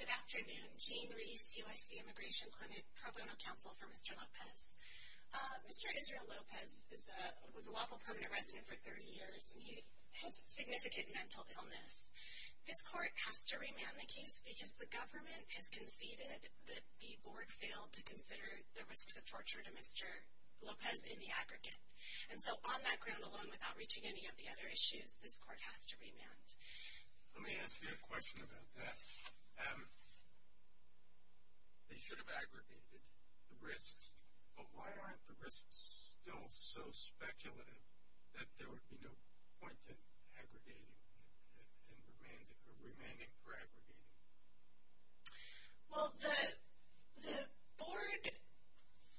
Good afternoon. Jeanne Rees, UIC Immigration Clinic, Pro Bono Counsel for Mr. Lopez. Mr. Israel Lopez was a lawful permanent resident for 30 years and he has significant mental illness. This court has to remand the case because the government has conceded that the board failed to consider the risks of torture to Mr. Lopez in the aggregate. And so on that ground alone, without reaching any of the other issues, this court has to remand. Let me ask you a question about that. They should have aggregated the risks, but why aren't the risks still so speculative that there would be no point in remanding for aggregating? Well, the board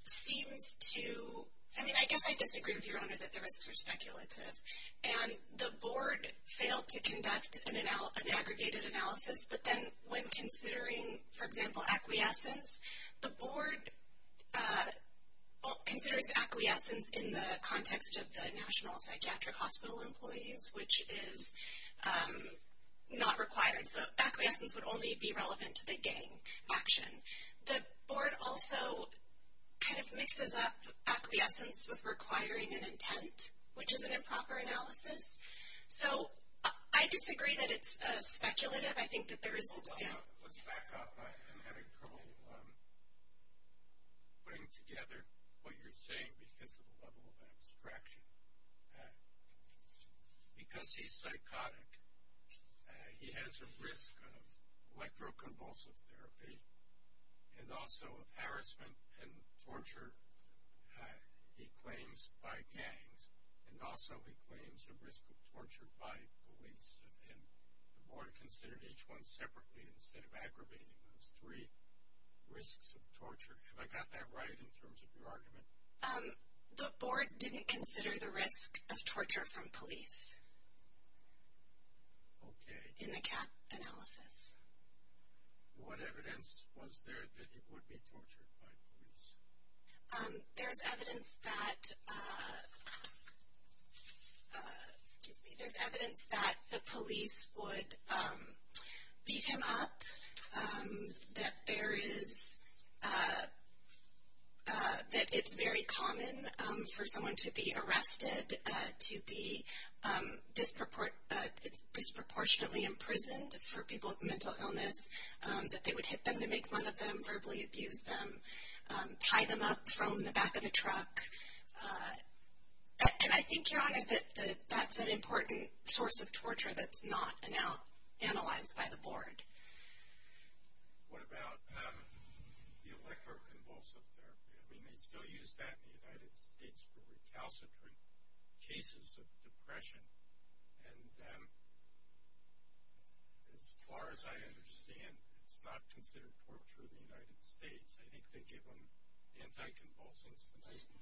seems to, I mean, I guess I disagree with your Honor that the risks are speculative. And the board failed to conduct an aggregated analysis, but then when considering, for example, acquiescence, the board considers acquiescence in the context of the National Psychiatric Hospital employees, which is not required. So acquiescence would only be relevant to the gang action. The board also kind of mixes up acquiescence with requiring an intent, which is an improper analysis. So I disagree that it's speculative. I think that there is substantial. Let's back up. I'm having trouble putting together what you're saying because of the level of abstraction. Because he's psychotic, he has a risk of electroconvulsive therapy and also of harassment and torture, he claims, by gangs. And also he claims a risk of torture by police. And the board considered each one separately instead of aggravating those three risks of torture. Have I got that right in terms of your argument? The board didn't consider the risk of torture from police. Okay. In the CAP analysis. There's evidence that the police would beat him up, that it's very common for someone to be arrested, to be disproportionately imprisoned for people with mental illness, that they would hit them to make fun of them, verbally abuse them, tie them up, throw them in the back of a truck. And I think, Your Honor, that that's an important source of torture that's not analyzed by the board. What about the electroconvulsive therapy? I mean, they still use that in the United States for recalcitrant cases of depression. And as far as I understand, it's not considered torture in the United States. I think they give them anticonvulsants and some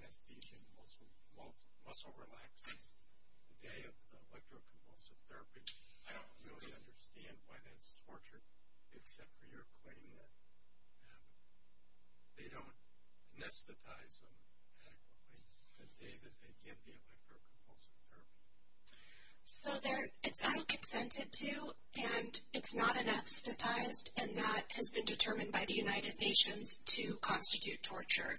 anesthesia and muscle relaxants the day of the electroconvulsive therapy. I don't really understand why that's torture, except for your claim that they don't anesthetize them adequately the day that they give the electroconvulsive therapy. So it's unconsented to, and it's not anesthetized, and that has been determined by the United Nations to constitute torture.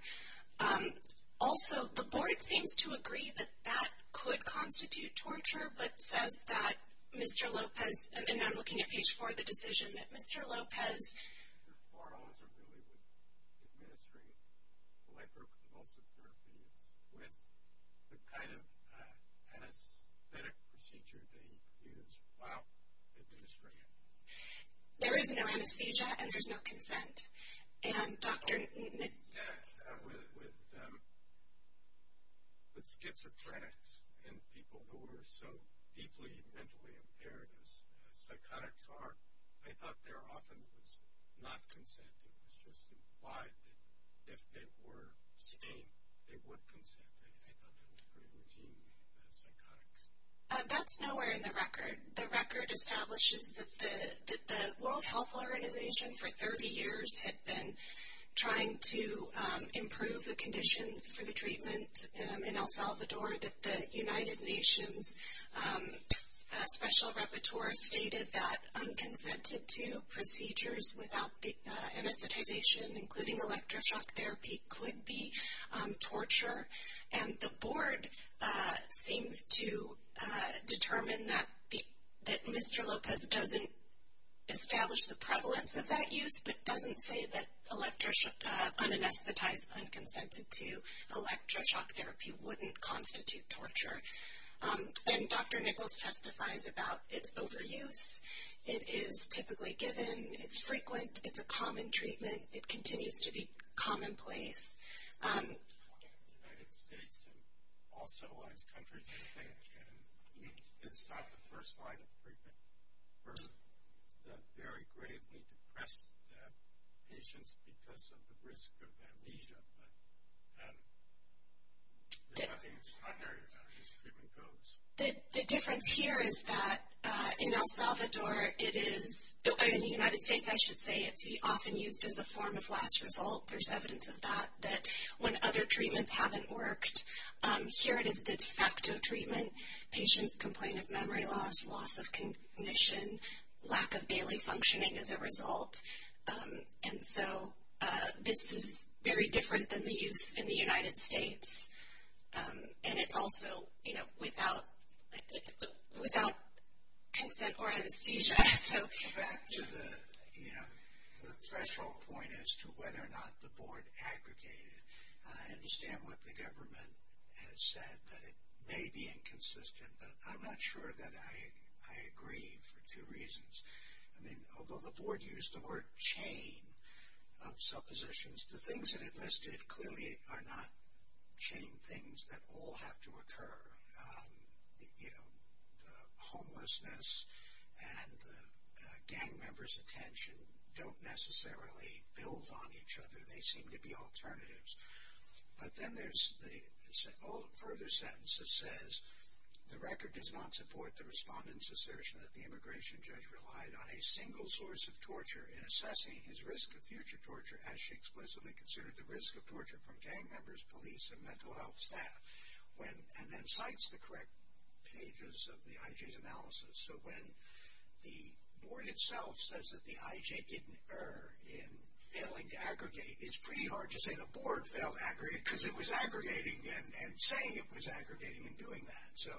Also, the board seems to agree that that could constitute torture, but says that Mr. Lopez, and I'm looking at page four of the decision, that Mr. Lopez For those who really would administer electroconvulsive therapies with the kind of anesthetic procedure they use while administering it. There is no anesthesia and there's no consent. And Dr. Newton With schizophrenics and people who are so deeply mentally impaired as psychotics are, I thought there often was not consent. It was just implied that if they were sane, they would consent. I thought that was pretty routine with psychotics. That's nowhere in the record. The record establishes that the World Health Organization for 30 years had been trying to improve the conditions for the treatment in El Salvador, that the United Nations Special Repertoire stated that unconsented to procedures without anesthetization, including electroshock therapy, could be torture. And the board seems to determine that Mr. Lopez doesn't establish the prevalence of that use, but doesn't say that unanesthetized, unconsented to electroshock therapy wouldn't constitute torture. And Dr. Nichols testifies about its overuse. It is typically given. It's frequent. It's a common treatment. It continues to be commonplace. It's common in the United States and all civilized countries, I think. And it's not the first line of treatment. We're very gravely depressed patients because of the risk of amnesia. But there's nothing extraordinary about it as treatment goes. The difference here is that in El Salvador it is, or in the United States, I should say, it's often used as a form of last result. There's evidence of that, that when other treatments haven't worked, here it is de facto treatment. Patients complain of memory loss, loss of cognition, lack of daily functioning as a result. And so this is very different than the use in the United States. And it's also, you know, without consent or anesthesia. Back to the, you know, the threshold point as to whether or not the board aggregated. I understand what the government has said, that it may be inconsistent. But I'm not sure that I agree for two reasons. I mean, although the board used the word chain of suppositions, the things that it listed clearly are not chain things that all have to occur. You know, the homelessness and the gang members' attention don't necessarily build on each other. They seem to be alternatives. But then there's the further sentence that says, the record does not support the respondent's assertion that the immigration judge relied on a single source of torture in assessing his risk of future torture as she explicitly considered the risk of torture from gang members, police and mental health staff. And then cites the correct pages of the IJ's analysis. So when the board itself says that the IJ didn't err in failing to aggregate, it's pretty hard to say the board failed to aggregate because it was aggregating and saying it was aggregating and doing that. So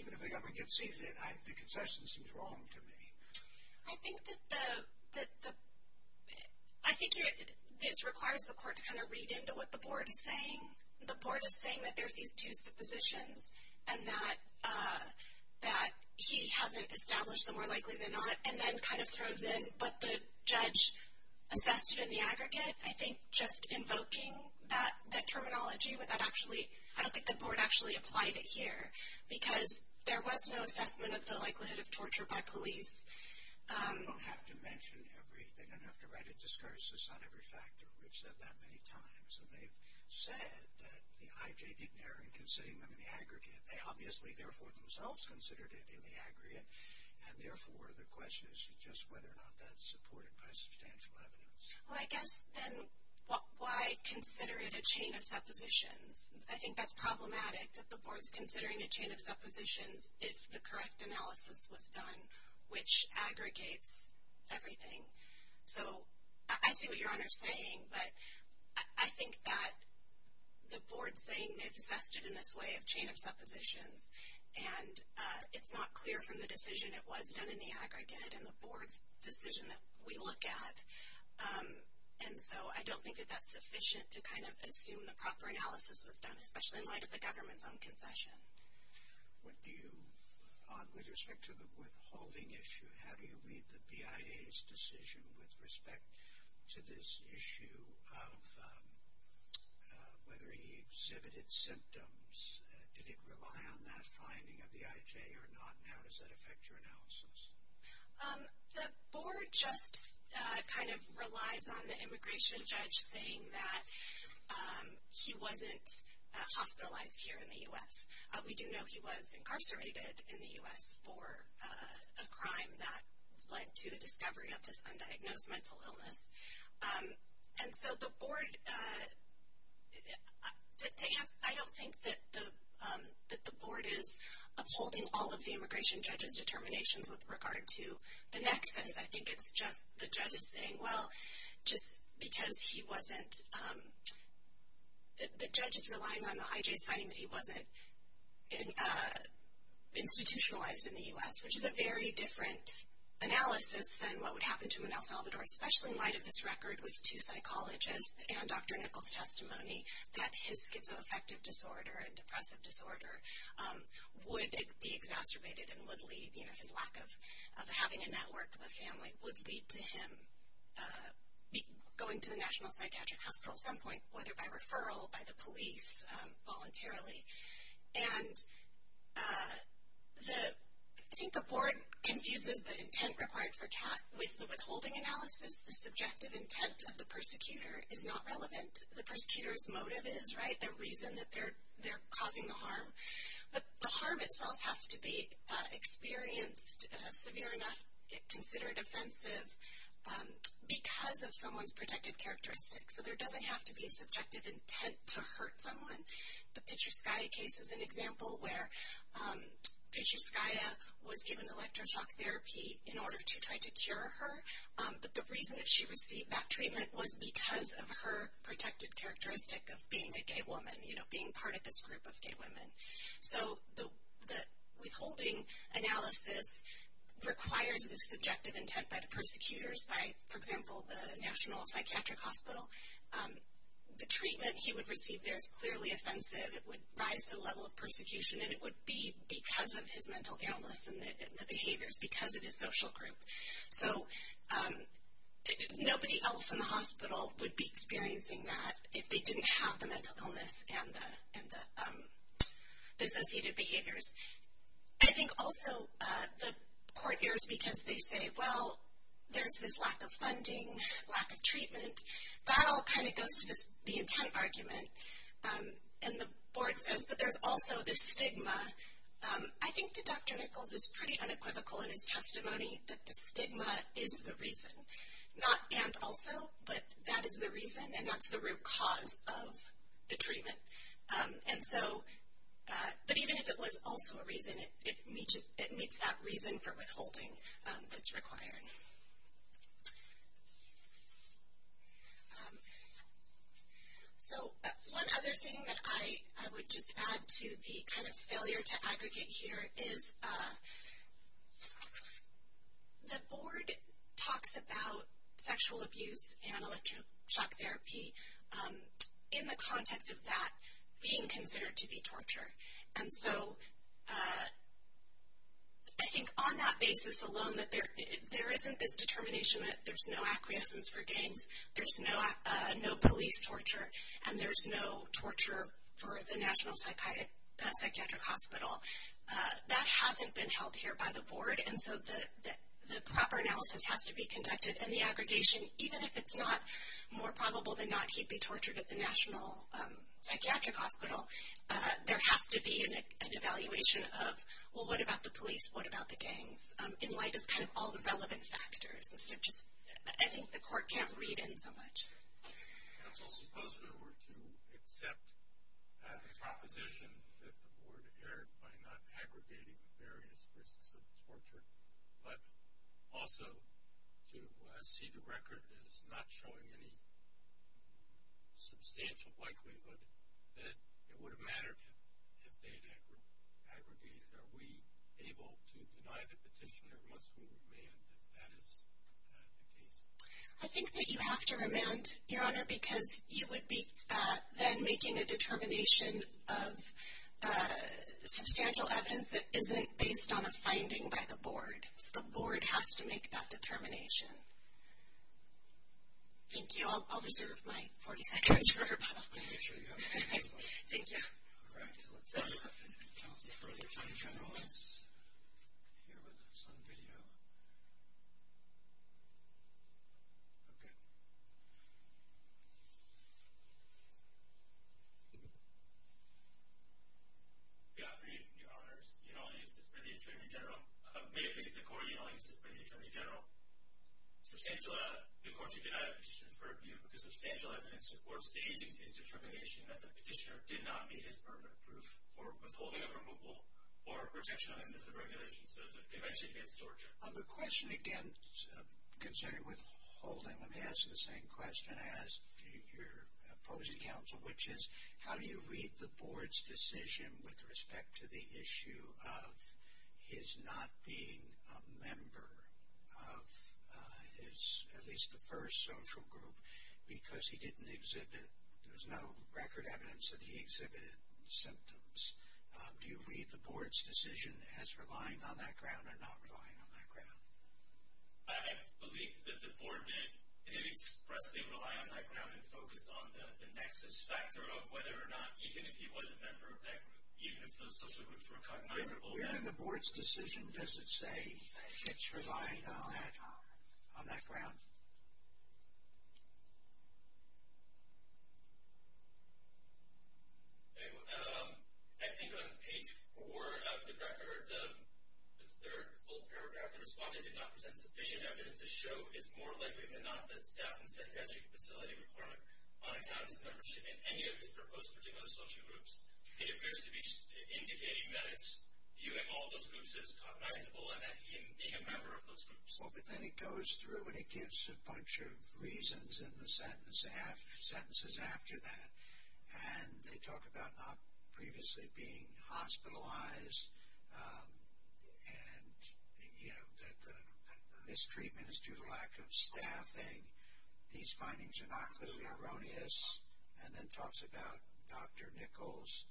even if the government conceded it, the concession seems wrong to me. I think this requires the court to kind of read into what the board is saying. The board is saying that there's these two suppositions and that he hasn't established the more likely than not and then kind of throws in what the judge assessed in the aggregate. I think just invoking that terminology without actually, I don't think the board actually applied it here because there was no assessment of the likelihood of torture by police. They don't have to mention every, they don't have to write a discursus on every factor. We've said that many times. And they've said that the IJ didn't err in considering them in the aggregate. They obviously therefore themselves considered it in the aggregate, and therefore the question is just whether or not that's supported by substantial evidence. Well, I guess then why consider it a chain of suppositions? I think that's problematic that the board's considering a chain of suppositions if the correct analysis was done, which aggregates everything. So I see what Your Honor is saying, but I think that the board's saying they've assessed it in this way of chain of suppositions, and it's not clear from the decision it was done in the aggregate and the board's decision that we look at. And so I don't think that that's sufficient to kind of assume the proper analysis was done, especially in light of the government's own concession. What do you, with respect to the withholding issue, how do you read the BIA's decision with respect to this issue of whether he exhibited symptoms? Did it rely on that finding of the IJ or not, and how does that affect your analysis? The board just kind of relies on the immigration judge saying that he wasn't hospitalized here in the U.S. We do know he was incarcerated in the U.S. for a crime that led to the discovery of this undiagnosed mental illness. And so the board, to answer, I don't think that the board is upholding all of the immigration judge's determinations with regard to the nexus. I think it's just the judge is saying, well, just because he wasn't, the judge is relying on the IJ's finding that he wasn't institutionalized in the U.S., which is a very different analysis than what would happen to him in El Salvador, especially in light of this record with two psychologists and Dr. Nichols' testimony that his schizoaffective disorder and depressive disorder would be exacerbated and would lead, you know, his lack of having a network of a family would lead to him going to the National Psychiatric Hospital at some point, whether by referral, by the police, voluntarily. And I think the board confuses the intent required for CAF with the withholding analysis. The subjective intent of the persecutor is not relevant. The persecutor's motive is, right, the reason that they're causing the harm. But the harm itself has to be experienced, severe enough, considered offensive, because of someone's protected characteristics. So there doesn't have to be subjective intent to hurt someone. The Pichuskaya case is an example where Pichuskaya was given electroshock therapy in order to try to cure her, but the reason that she received that treatment was because of her protected characteristic of being a gay woman, you know, being part of this group of gay women. So the withholding analysis requires the subjective intent by the persecutors, by, for example, the National Psychiatric Hospital. The treatment he would receive there is clearly offensive. It would rise to the level of persecution, and it would be because of his mental illness and the behaviors because of his social group. So nobody else in the hospital would be experiencing that if they didn't have the mental illness and the associated behaviors. I think also the court errs because they say, well, there's this lack of funding, lack of treatment. That all kind of goes to the intent argument, and the board says that there's also this stigma. I think that Dr. Nichols is pretty unequivocal in his testimony that the stigma is the reason. Not and also, but that is the reason, and that's the root cause of the treatment. And so, but even if it was also a reason, it meets that reason for withholding that's required. So one other thing that I would just add to the kind of failure to aggregate here is the board talks about being considered to be torture, and so I think on that basis alone that there isn't this determination that there's no acquiescence for games, there's no police torture, and there's no torture for the National Psychiatric Hospital. That hasn't been held here by the board, and so the proper analysis has to be conducted, and the aggregation, even if it's not more probable than not he'd be tortured at the National Psychiatric Hospital, there has to be an evaluation of, well, what about the police, what about the gangs, in light of kind of all the relevant factors. I think the court can't read in so much. Counsel, suppose there were to accept the proposition that the board erred by not aggregating the various risks of torture, but also to see the record as not showing any substantial likelihood that it would have mattered if they'd aggregated. Are we able to deny the petition, or must we remand if that is the case? I think that you have to remand, Your Honor, because you would be then making a determination of substantial evidence that isn't based on a finding by the board. So the board has to make that determination. Thank you. I'll reserve my 40 seconds for her. Thank you. All right, so let's have counsel for the attorney general. Let's hear what's on video. Okay. Good afternoon, Your Honors. You know, I used it for the attorney general. May it please the court, you know, I used it for the attorney general. Substantial evidence. The court should deny the petition for review because substantial evidence supports the agency's determination that the petitioner did not meet his permanent proof for withholding of removal or protection under the regulations of the Convention Against Torture. The question, again, concerning withholding, let me ask the same question as your opposing counsel, which is how do you read the board's decision with respect to the issue of his not being a member of his, at least the first social group, because he didn't exhibit. There was no record evidence that he exhibited symptoms. Do you read the board's decision as relying on that ground or not relying on that ground? I believe that the board did expressly rely on that ground and focused on the nexus factor of whether or not even if he was a member of that group, even if those social groups were cognizable. When you read the board's decision, does it say that you relied on that ground? I think on page 4 of the record, the third full paragraph, the respondent did not present sufficient evidence to show, it's more likely than not that staff and psychiatric facility were on account of his membership in any of his proposed particular social groups. It appears to be indicating that viewing all those groups as cognizable and that he didn't think a member of those groups. But then it goes through and it gives a bunch of reasons in the sentences after that, and they talk about not previously being hospitalized and that the mistreatment is due to lack of staffing. These findings are not clearly erroneous. And then it talks about Dr. Nichols.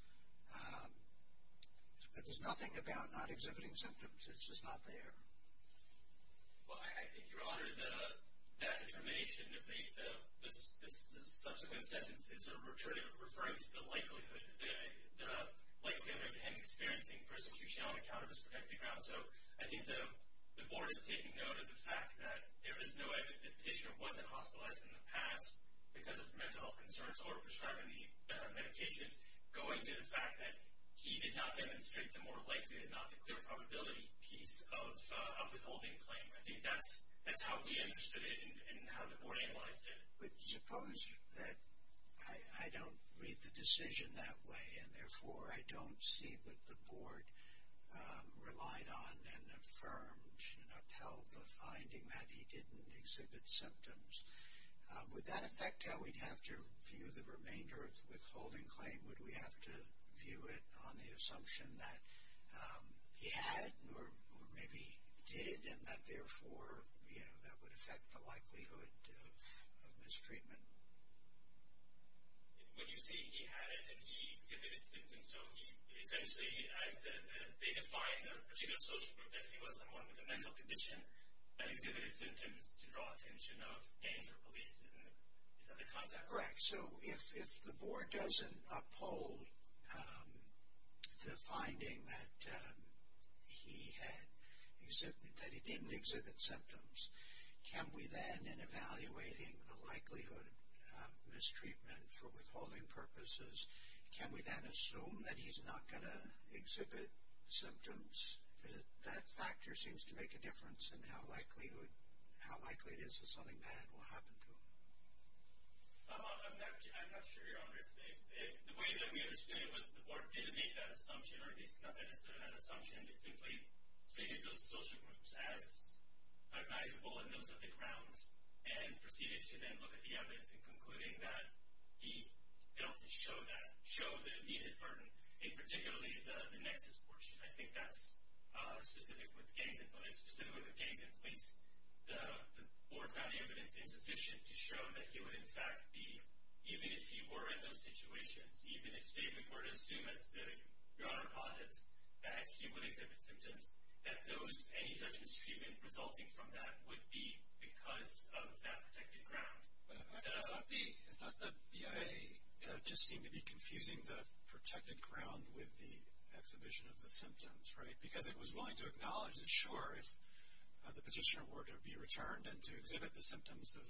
There's nothing about not exhibiting symptoms. It's just not there. Well, I think, Your Honor, that determination of the subsequent sentences are referring to the likelihood of him experiencing persecution on account of his protected grounds. So I think the board is taking note of the fact that the petitioner wasn't hospitalized in the past because of mental health concerns or prescribing the medications, going to the fact that he did not demonstrate the more likely than not to clear probability piece of a withholding claim. I think that's how we understood it and how the board analyzed it. But suppose that I don't read the decision that way and therefore I don't see what the board relied on and affirmed and upheld the finding that he didn't exhibit symptoms. Would that affect how we'd have to view the remainder of the withholding claim? Would we have to view it on the assumption that he had or maybe did and that, therefore, that would affect the likelihood of mistreatment? When you say he had it and he exhibited symptoms, so he essentially, as they define the particular social group, that he was someone with a mental condition that exhibited symptoms to draw attention of gangs or police. Is that the context? Correct. So if the board doesn't uphold the finding that he didn't exhibit symptoms, can we then, in evaluating the likelihood of mistreatment for withholding purposes, can we then assume that he's not going to exhibit symptoms? That factor seems to make a difference in how likely it is that something bad will happen to him. I'm not sure you're on there today. The way that we understood it was the board didn't make that assumption or at least not necessarily that assumption. It simply treated those social groups as recognizable and those at the ground and proceeded to then look at the evidence in concluding that he failed to show that, show the need, his burden, and particularly the nexus portion. I think that's specific with gangs and police. The board found the evidence insufficient to show that he would, in fact, be, even if he were in those situations, even if, say, we were to assume, as Your Honor posits, that he would exhibit symptoms, that any such mistreatment resulting from that would be because of that protected ground. I thought the BIA just seemed to be confusing the protected ground with the exhibition of the symptoms, right? Because it was willing to acknowledge that, sure, if the petitioner were to be returned and to exhibit the symptoms of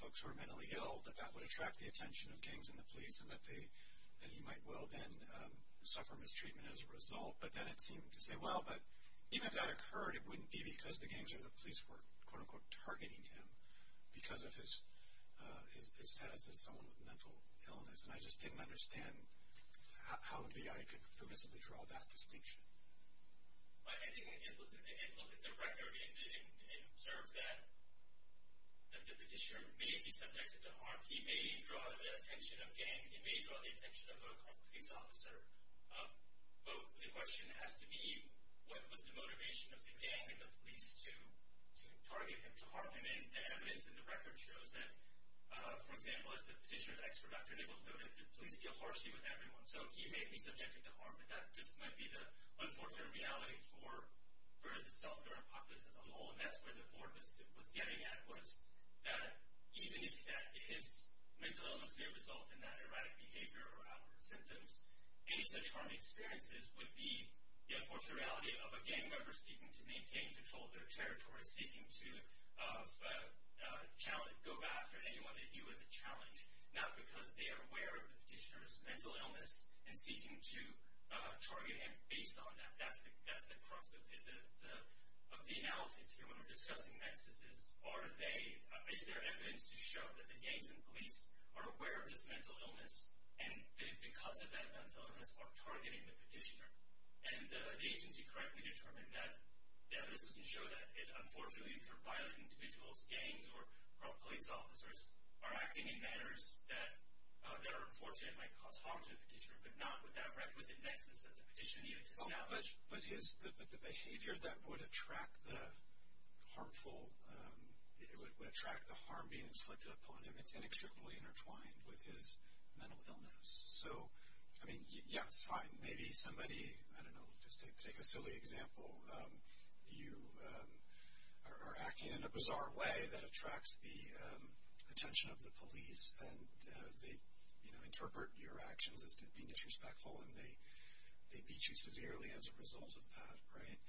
folks who are mentally ill, that that would attract the attention of gangs and the police and that he might well then suffer mistreatment as a result. But then it seemed to say, well, but even if that occurred, it wouldn't be because the gangs or the police were, quote, unquote, targeting him because of his status as someone with mental illness. And I just didn't understand how the BIA could permissibly draw that distinction. I think it looked at the record and observed that the petitioner may be subjected to harm. He may draw the attention of gangs. He may draw the attention of a police officer. But the question has to be, what was the motivation of the gang and the police to target him, to harm him? And the evidence in the record shows that, for example, as the petitioner's ex-productor Nichols noted, the police deal harshly with everyone. So he may be subjected to harm, but that just might be the unfortunate reality for the self-governed populace as a whole. And that's where the thought was getting at was that even if his mental illness may result in that erratic behavior or other symptoms, any such harm he experiences would be the unfortunate reality of a gang member seeking to maintain control of their territory, seeking to go after anyone that he was a challenge, not because they are aware of the petitioner's mental illness and seeking to target him based on that. That's the crux of the analysis here when we're discussing nexuses. Is there evidence to show that the gangs and police are aware of this mental illness and because of that mental illness are targeting the petitioner? And the agency correctly determined that. The evidence doesn't show that. Unfortunately, for violent individuals, gangs or police officers are acting in manners that are unfortunate and might cause harm to the petitioner, but not with that requisite nexus that the petitioner needed to establish. But the behavior that would attract the harmful, would attract the harm being inflicted upon him, it's inextricably intertwined with his mental illness. So, I mean, yeah, it's fine. Maybe somebody, I don't know, just take a silly example. You are acting in a bizarre way that attracts the attention of the police and they interpret your actions as being disrespectful and they beat you severely as a result of that, right?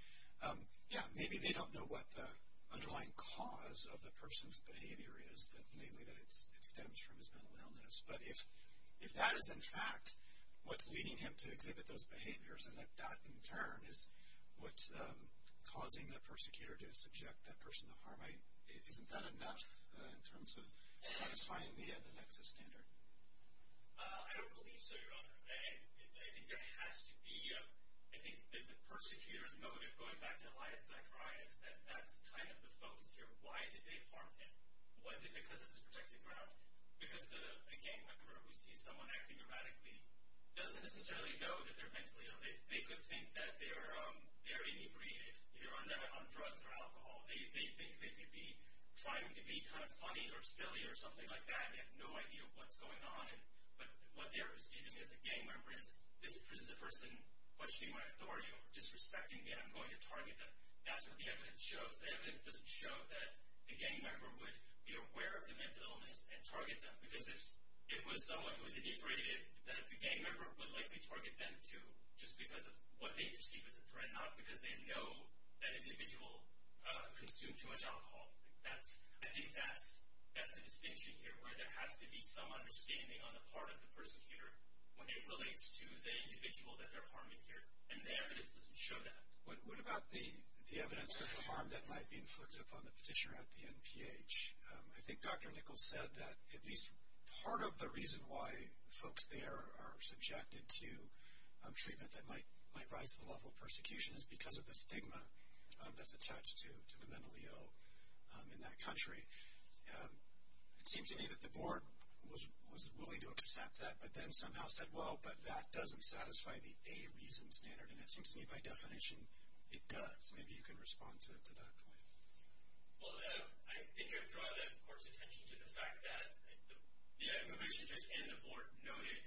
Yeah, maybe they don't know what the underlying cause of the person's behavior is, namely that it stems from his mental illness. But if that is, in fact, what's leading him to exhibit those behaviors and that that, in turn, is what's causing the persecutor to subject that person to harm, isn't that enough in terms of satisfying the nexus standard? I don't believe so, Your Honor. I think there has to be, I think the persecutor's motive, going back to Elias Zacharias, that that's kind of the focus here. Why did they harm him? Was it because of this protected ground? Because a gang member who sees someone acting erratically doesn't necessarily know that they're mentally ill. They could think that they're inebriated. They're on drugs or alcohol. They think they could be trying to be kind of funny or silly or something like that and have no idea what's going on. But what they're perceiving as a gang member is, this is a person questioning my authority or disrespecting me, and I'm going to target them. That's what the evidence shows. The evidence doesn't show that a gang member would be aware of their mental illness and target them. Because if it was someone who was inebriated, then the gang member would likely target them, too, just because of what they perceive as a threat, not because they know that individual consumed too much alcohol. I think that's the distinction here, where there has to be some understanding on the part of the persecutor when it relates to the individual that they're harming here. And the evidence doesn't show that. What about the evidence of harm that might be inflicted upon the petitioner at the NPH? I think Dr. Nichols said that at least part of the reason why folks there are subjected to treatment that might rise to the level of persecution is because of the stigma that's attached to the mentally ill in that country. It seems to me that the board was willing to accept that, but then somehow said, well, but that doesn't satisfy the A reason standard. And it seems to me, by definition, it does. Maybe you can respond to that point. Well, I think I'd draw the court's attention to the fact that the immigration judge and the board noted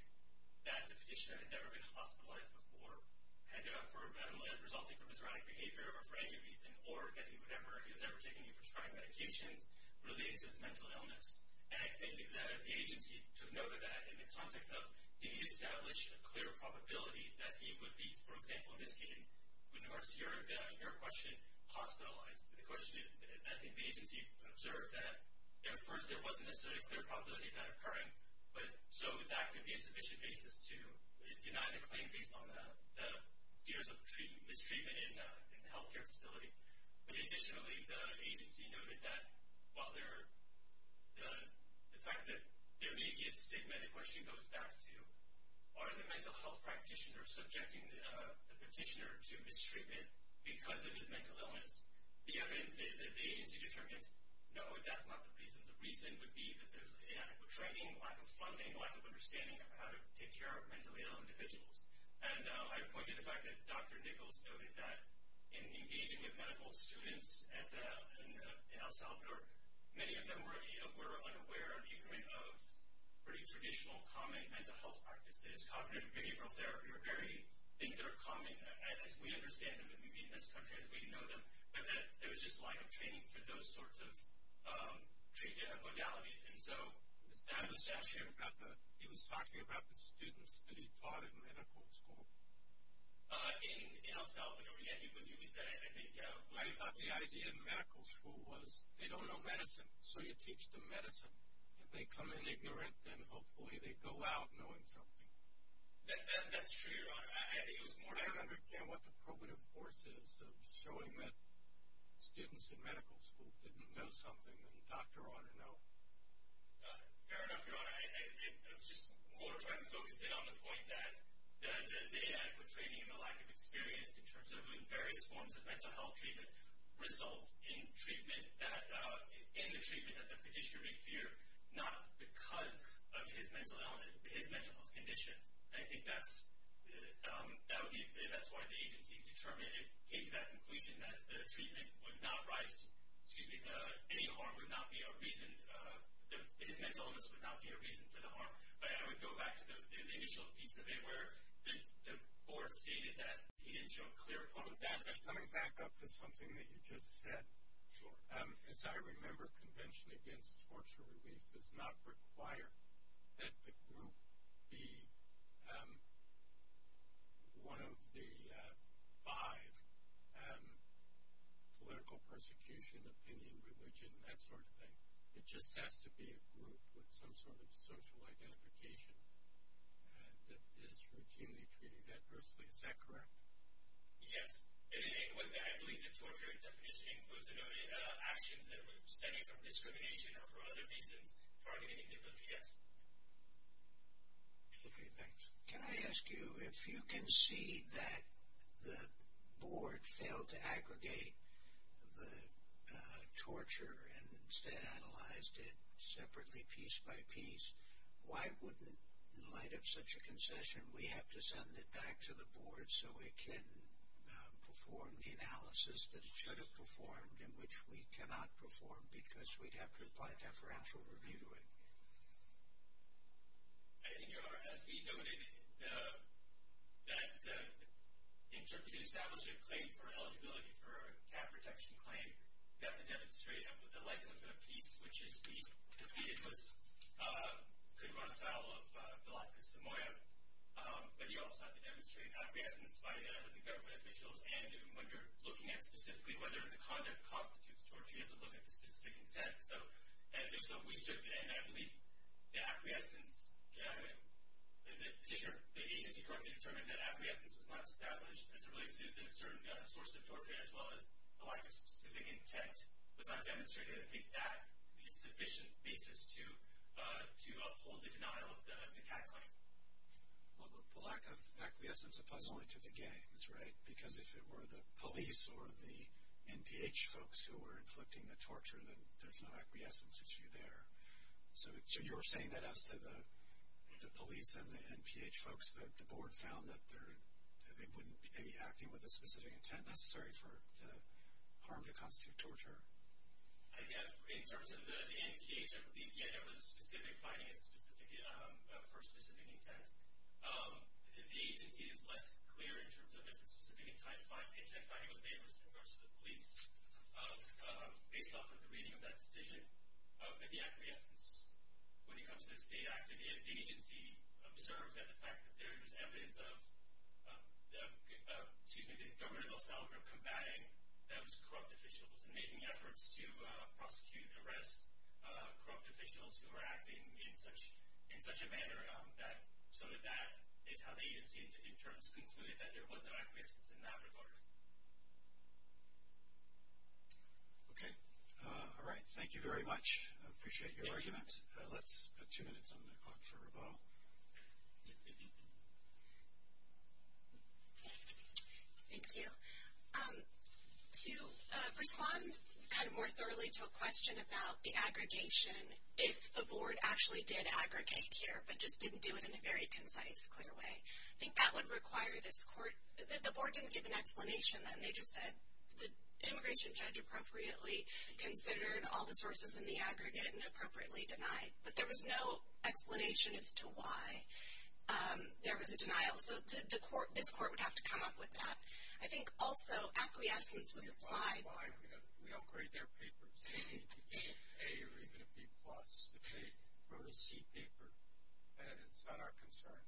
that the petitioner had never been hospitalized before, resulting from his erratic behavior or for any reason, or getting whatever he was ever taking or prescribing medications related to his mental illness. And I think that the agency took note of that in the context of, did he establish a clear probability that he would be, for example, in this case, in regards to your question, hospitalized? I think the agency observed that at first there wasn't necessarily a clear probability of that occurring, so that could be a sufficient basis to deny the claim based on the fears of mistreatment in the health care facility. But additionally, the agency noted that while the fact that there may be a stigma, the question goes back to, are the mental health practitioners subjecting the petitioner to mistreatment because of his mental illness? The evidence that the agency determined, no, that's not the reason. The reason would be that there's inadequate training, lack of funding, lack of understanding of how to take care of mentally ill individuals. And I point to the fact that Dr. Nichols noted that in engaging with medical students in El Salvador, many of them were unaware of the agreement of pretty traditional common mental health practices. Cognitive behavioral therapy are very things that are common, as we understand them, maybe in this country as we know them, but that there was just lack of training for those sorts of treatment modalities. And so that was the issue. He was talking about the students that he taught in medical school. In El Salvador, yeah, he would use that. I thought the idea in medical school was they don't know medicine, so you teach them medicine. If they come in ignorant, then hopefully they go out knowing something. That's true, Your Honor. I don't understand what the probative force is of showing that students in medical school didn't know something that a doctor ought to know. Fair enough, Your Honor. I was just more trying to focus in on the point that the inadequate training and the lack of experience in terms of various forms of mental health treatment results in the treatment that the petitioner may fear, not because of his mental health condition. I think that's why the agency came to that conclusion that any harm would not be a reason. His mental illness would not be a reason for the harm. But I would go back to the initial piece of it where the board stated that he didn't show clear quality. Let me back up to something that you just said. Sure. As I remember, convention against torture relief does not require that the group be one of the five, political persecution, opinion, religion, that sort of thing. It just has to be a group with some sort of social identification that is routinely treated adversely. Is that correct? Yes. I believe the torture definition includes actions that would stem you from discrimination or for other reasons targeting individuals. Yes. Okay, thanks. Can I ask you, if you concede that the board failed to aggregate the torture and instead analyzed it separately piece by piece, why wouldn't, in light of such a concession, we have to send it back to the board so it can perform the analysis that it should have performed and which we cannot perform because we'd have to apply deferential review to it? I think, as we noted, in terms of establishing a claim for eligibility for a cap protection claim, you have to demonstrate the length of the piece, which as we conceded could run afoul of Velazquez-Samoa, but you also have to demonstrate acquiescence by the government officials, and when you're looking at specifically whether the conduct constitutes torture, you have to look at the specific intent. So we took, and I believe the acquiescence petitioner, the agency, to correctly determine that acquiescence was not established as a relationship in a certain source of torture as well as the lack of specific intent was not demonstrated. I think that would be a sufficient basis to uphold the denial of the cap claim. Well, the lack of acquiescence applies only to the games, right? Because if it were the police or the NPH folks who were inflicting the torture, then there's no acquiescence issue there. So you're saying that as to the police and the NPH folks, the board found that they wouldn't be acting with a specific intent necessary to harm to constitute torture? I guess in terms of the NPH, I believe the NPH had a specific finding for a specific intent. The agency is less clear in terms of if a specific intent finding was made in regards to the police. Based off of the reading of that decision, the acquiescence, when it comes to the state act, the agency observes that the fact that there is evidence of the government of El Salvador combating those corrupt officials and making efforts to prosecute and arrest corrupt officials who are acting in such a manner that some of that is how the agency in terms concluded that there was an acquiescence in that regard. Okay. All right. Thank you very much. I appreciate your argument. Let's put two minutes on the clock for rebuttal. Thank you. To respond kind of more thoroughly to a question about the aggregation, if the board actually did aggregate here but just didn't do it in a very concise, clear way, I think that would require this court. The board didn't give an explanation then. They just said the immigration judge appropriately considered all the sources in the aggregate and appropriately denied. But there was no explanation as to why there was a denial. So this court would have to come up with that. I think also acquiescence was applied. We don't grade their papers. A or even a B+. If they wrote a C paper, then it's not our concern.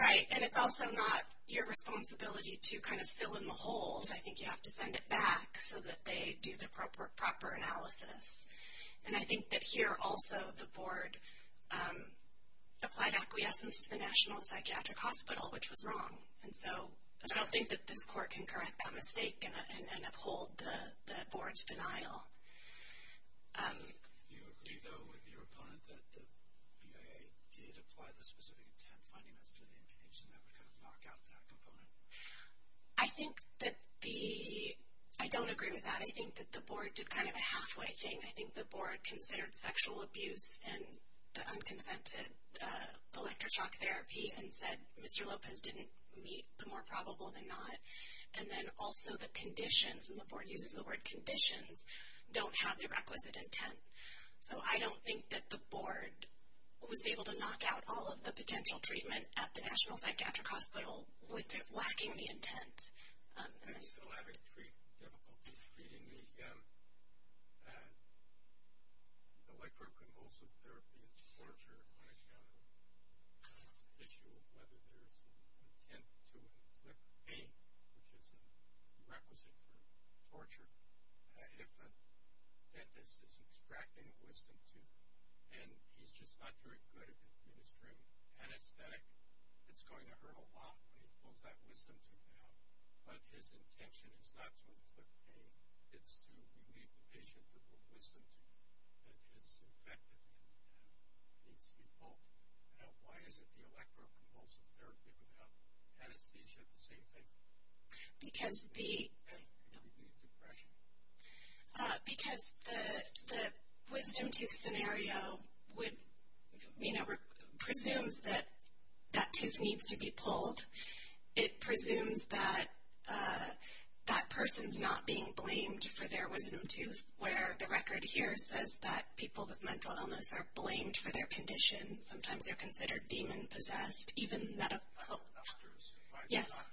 Right. And it's also not your responsibility to kind of fill in the holes. I think you have to send it back so that they do the proper analysis. And I think that here also the board applied acquiescence to the National Psychiatric Hospital, which was wrong. And so I don't think that this court can correct that mistake and uphold the board's denial. Do you agree, though, with your opponent that the BIA did apply the specific intent finding that's in the impugnation that would kind of knock out that component? I think that the – I don't agree with that. I think that the board did kind of a halfway thing. I think the board considered sexual abuse and the unconsented electroshock therapy and said Mr. Lopez didn't meet the more probable than not. And then also the conditions, and the board uses the word conditions, don't have the requisite intent. So I don't think that the board was able to knock out all of the potential treatment at the National Psychiatric Hospital with it lacking the intent. I still have difficulty treating the liproconvulsive therapy and torture on a general issue of whether there's an intent to inflict pain, which is a requisite for torture. If a dentist is extracting a wisdom tooth and he's just not very good at administering anesthetic, it's going to hurt a lot when he pulls that wisdom tooth out. But his intention is not to inflict pain. It's to relieve the patient from the wisdom tooth that has infected him and needs to be pulled out. Why is it the liproconvulsive therapy without anesthesia, the same thing? Because the – Can you relieve depression? Because the wisdom tooth scenario would, you know, presumes that that tooth needs to be pulled. It presumes that that person's not being blamed for their wisdom tooth, where the record here says that people with mental illness are blamed for their condition. Sometimes they're considered demon-possessed, even medical. Yes.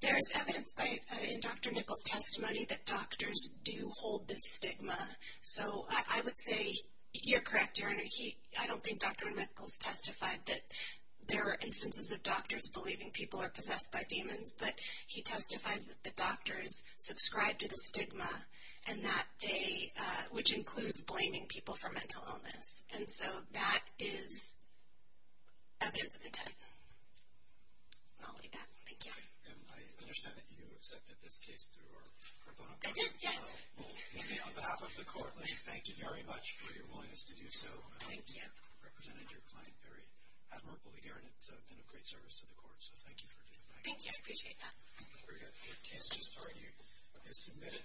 There is evidence in Dr. Nichols' testimony that doctors do hold this stigma. So I would say you're correct, Your Honor. I don't think Dr. Nichols testified that there are instances of doctors believing people are possessed by demons, but he testifies that the doctors subscribe to the stigma, and that they – which includes blaming people for mental illness. And so that is evidence of intent. And I'll leave that. Thank you. And I understand that you accepted this case through our proponent board. I did, yes. Well, maybe on behalf of the court, let me thank you very much for your willingness to do so. Thank you. I hope you represented your client very admirably here, and it's been a great service to the court. So thank you for doing that. Thank you. I appreciate that. The case just argued is submitted.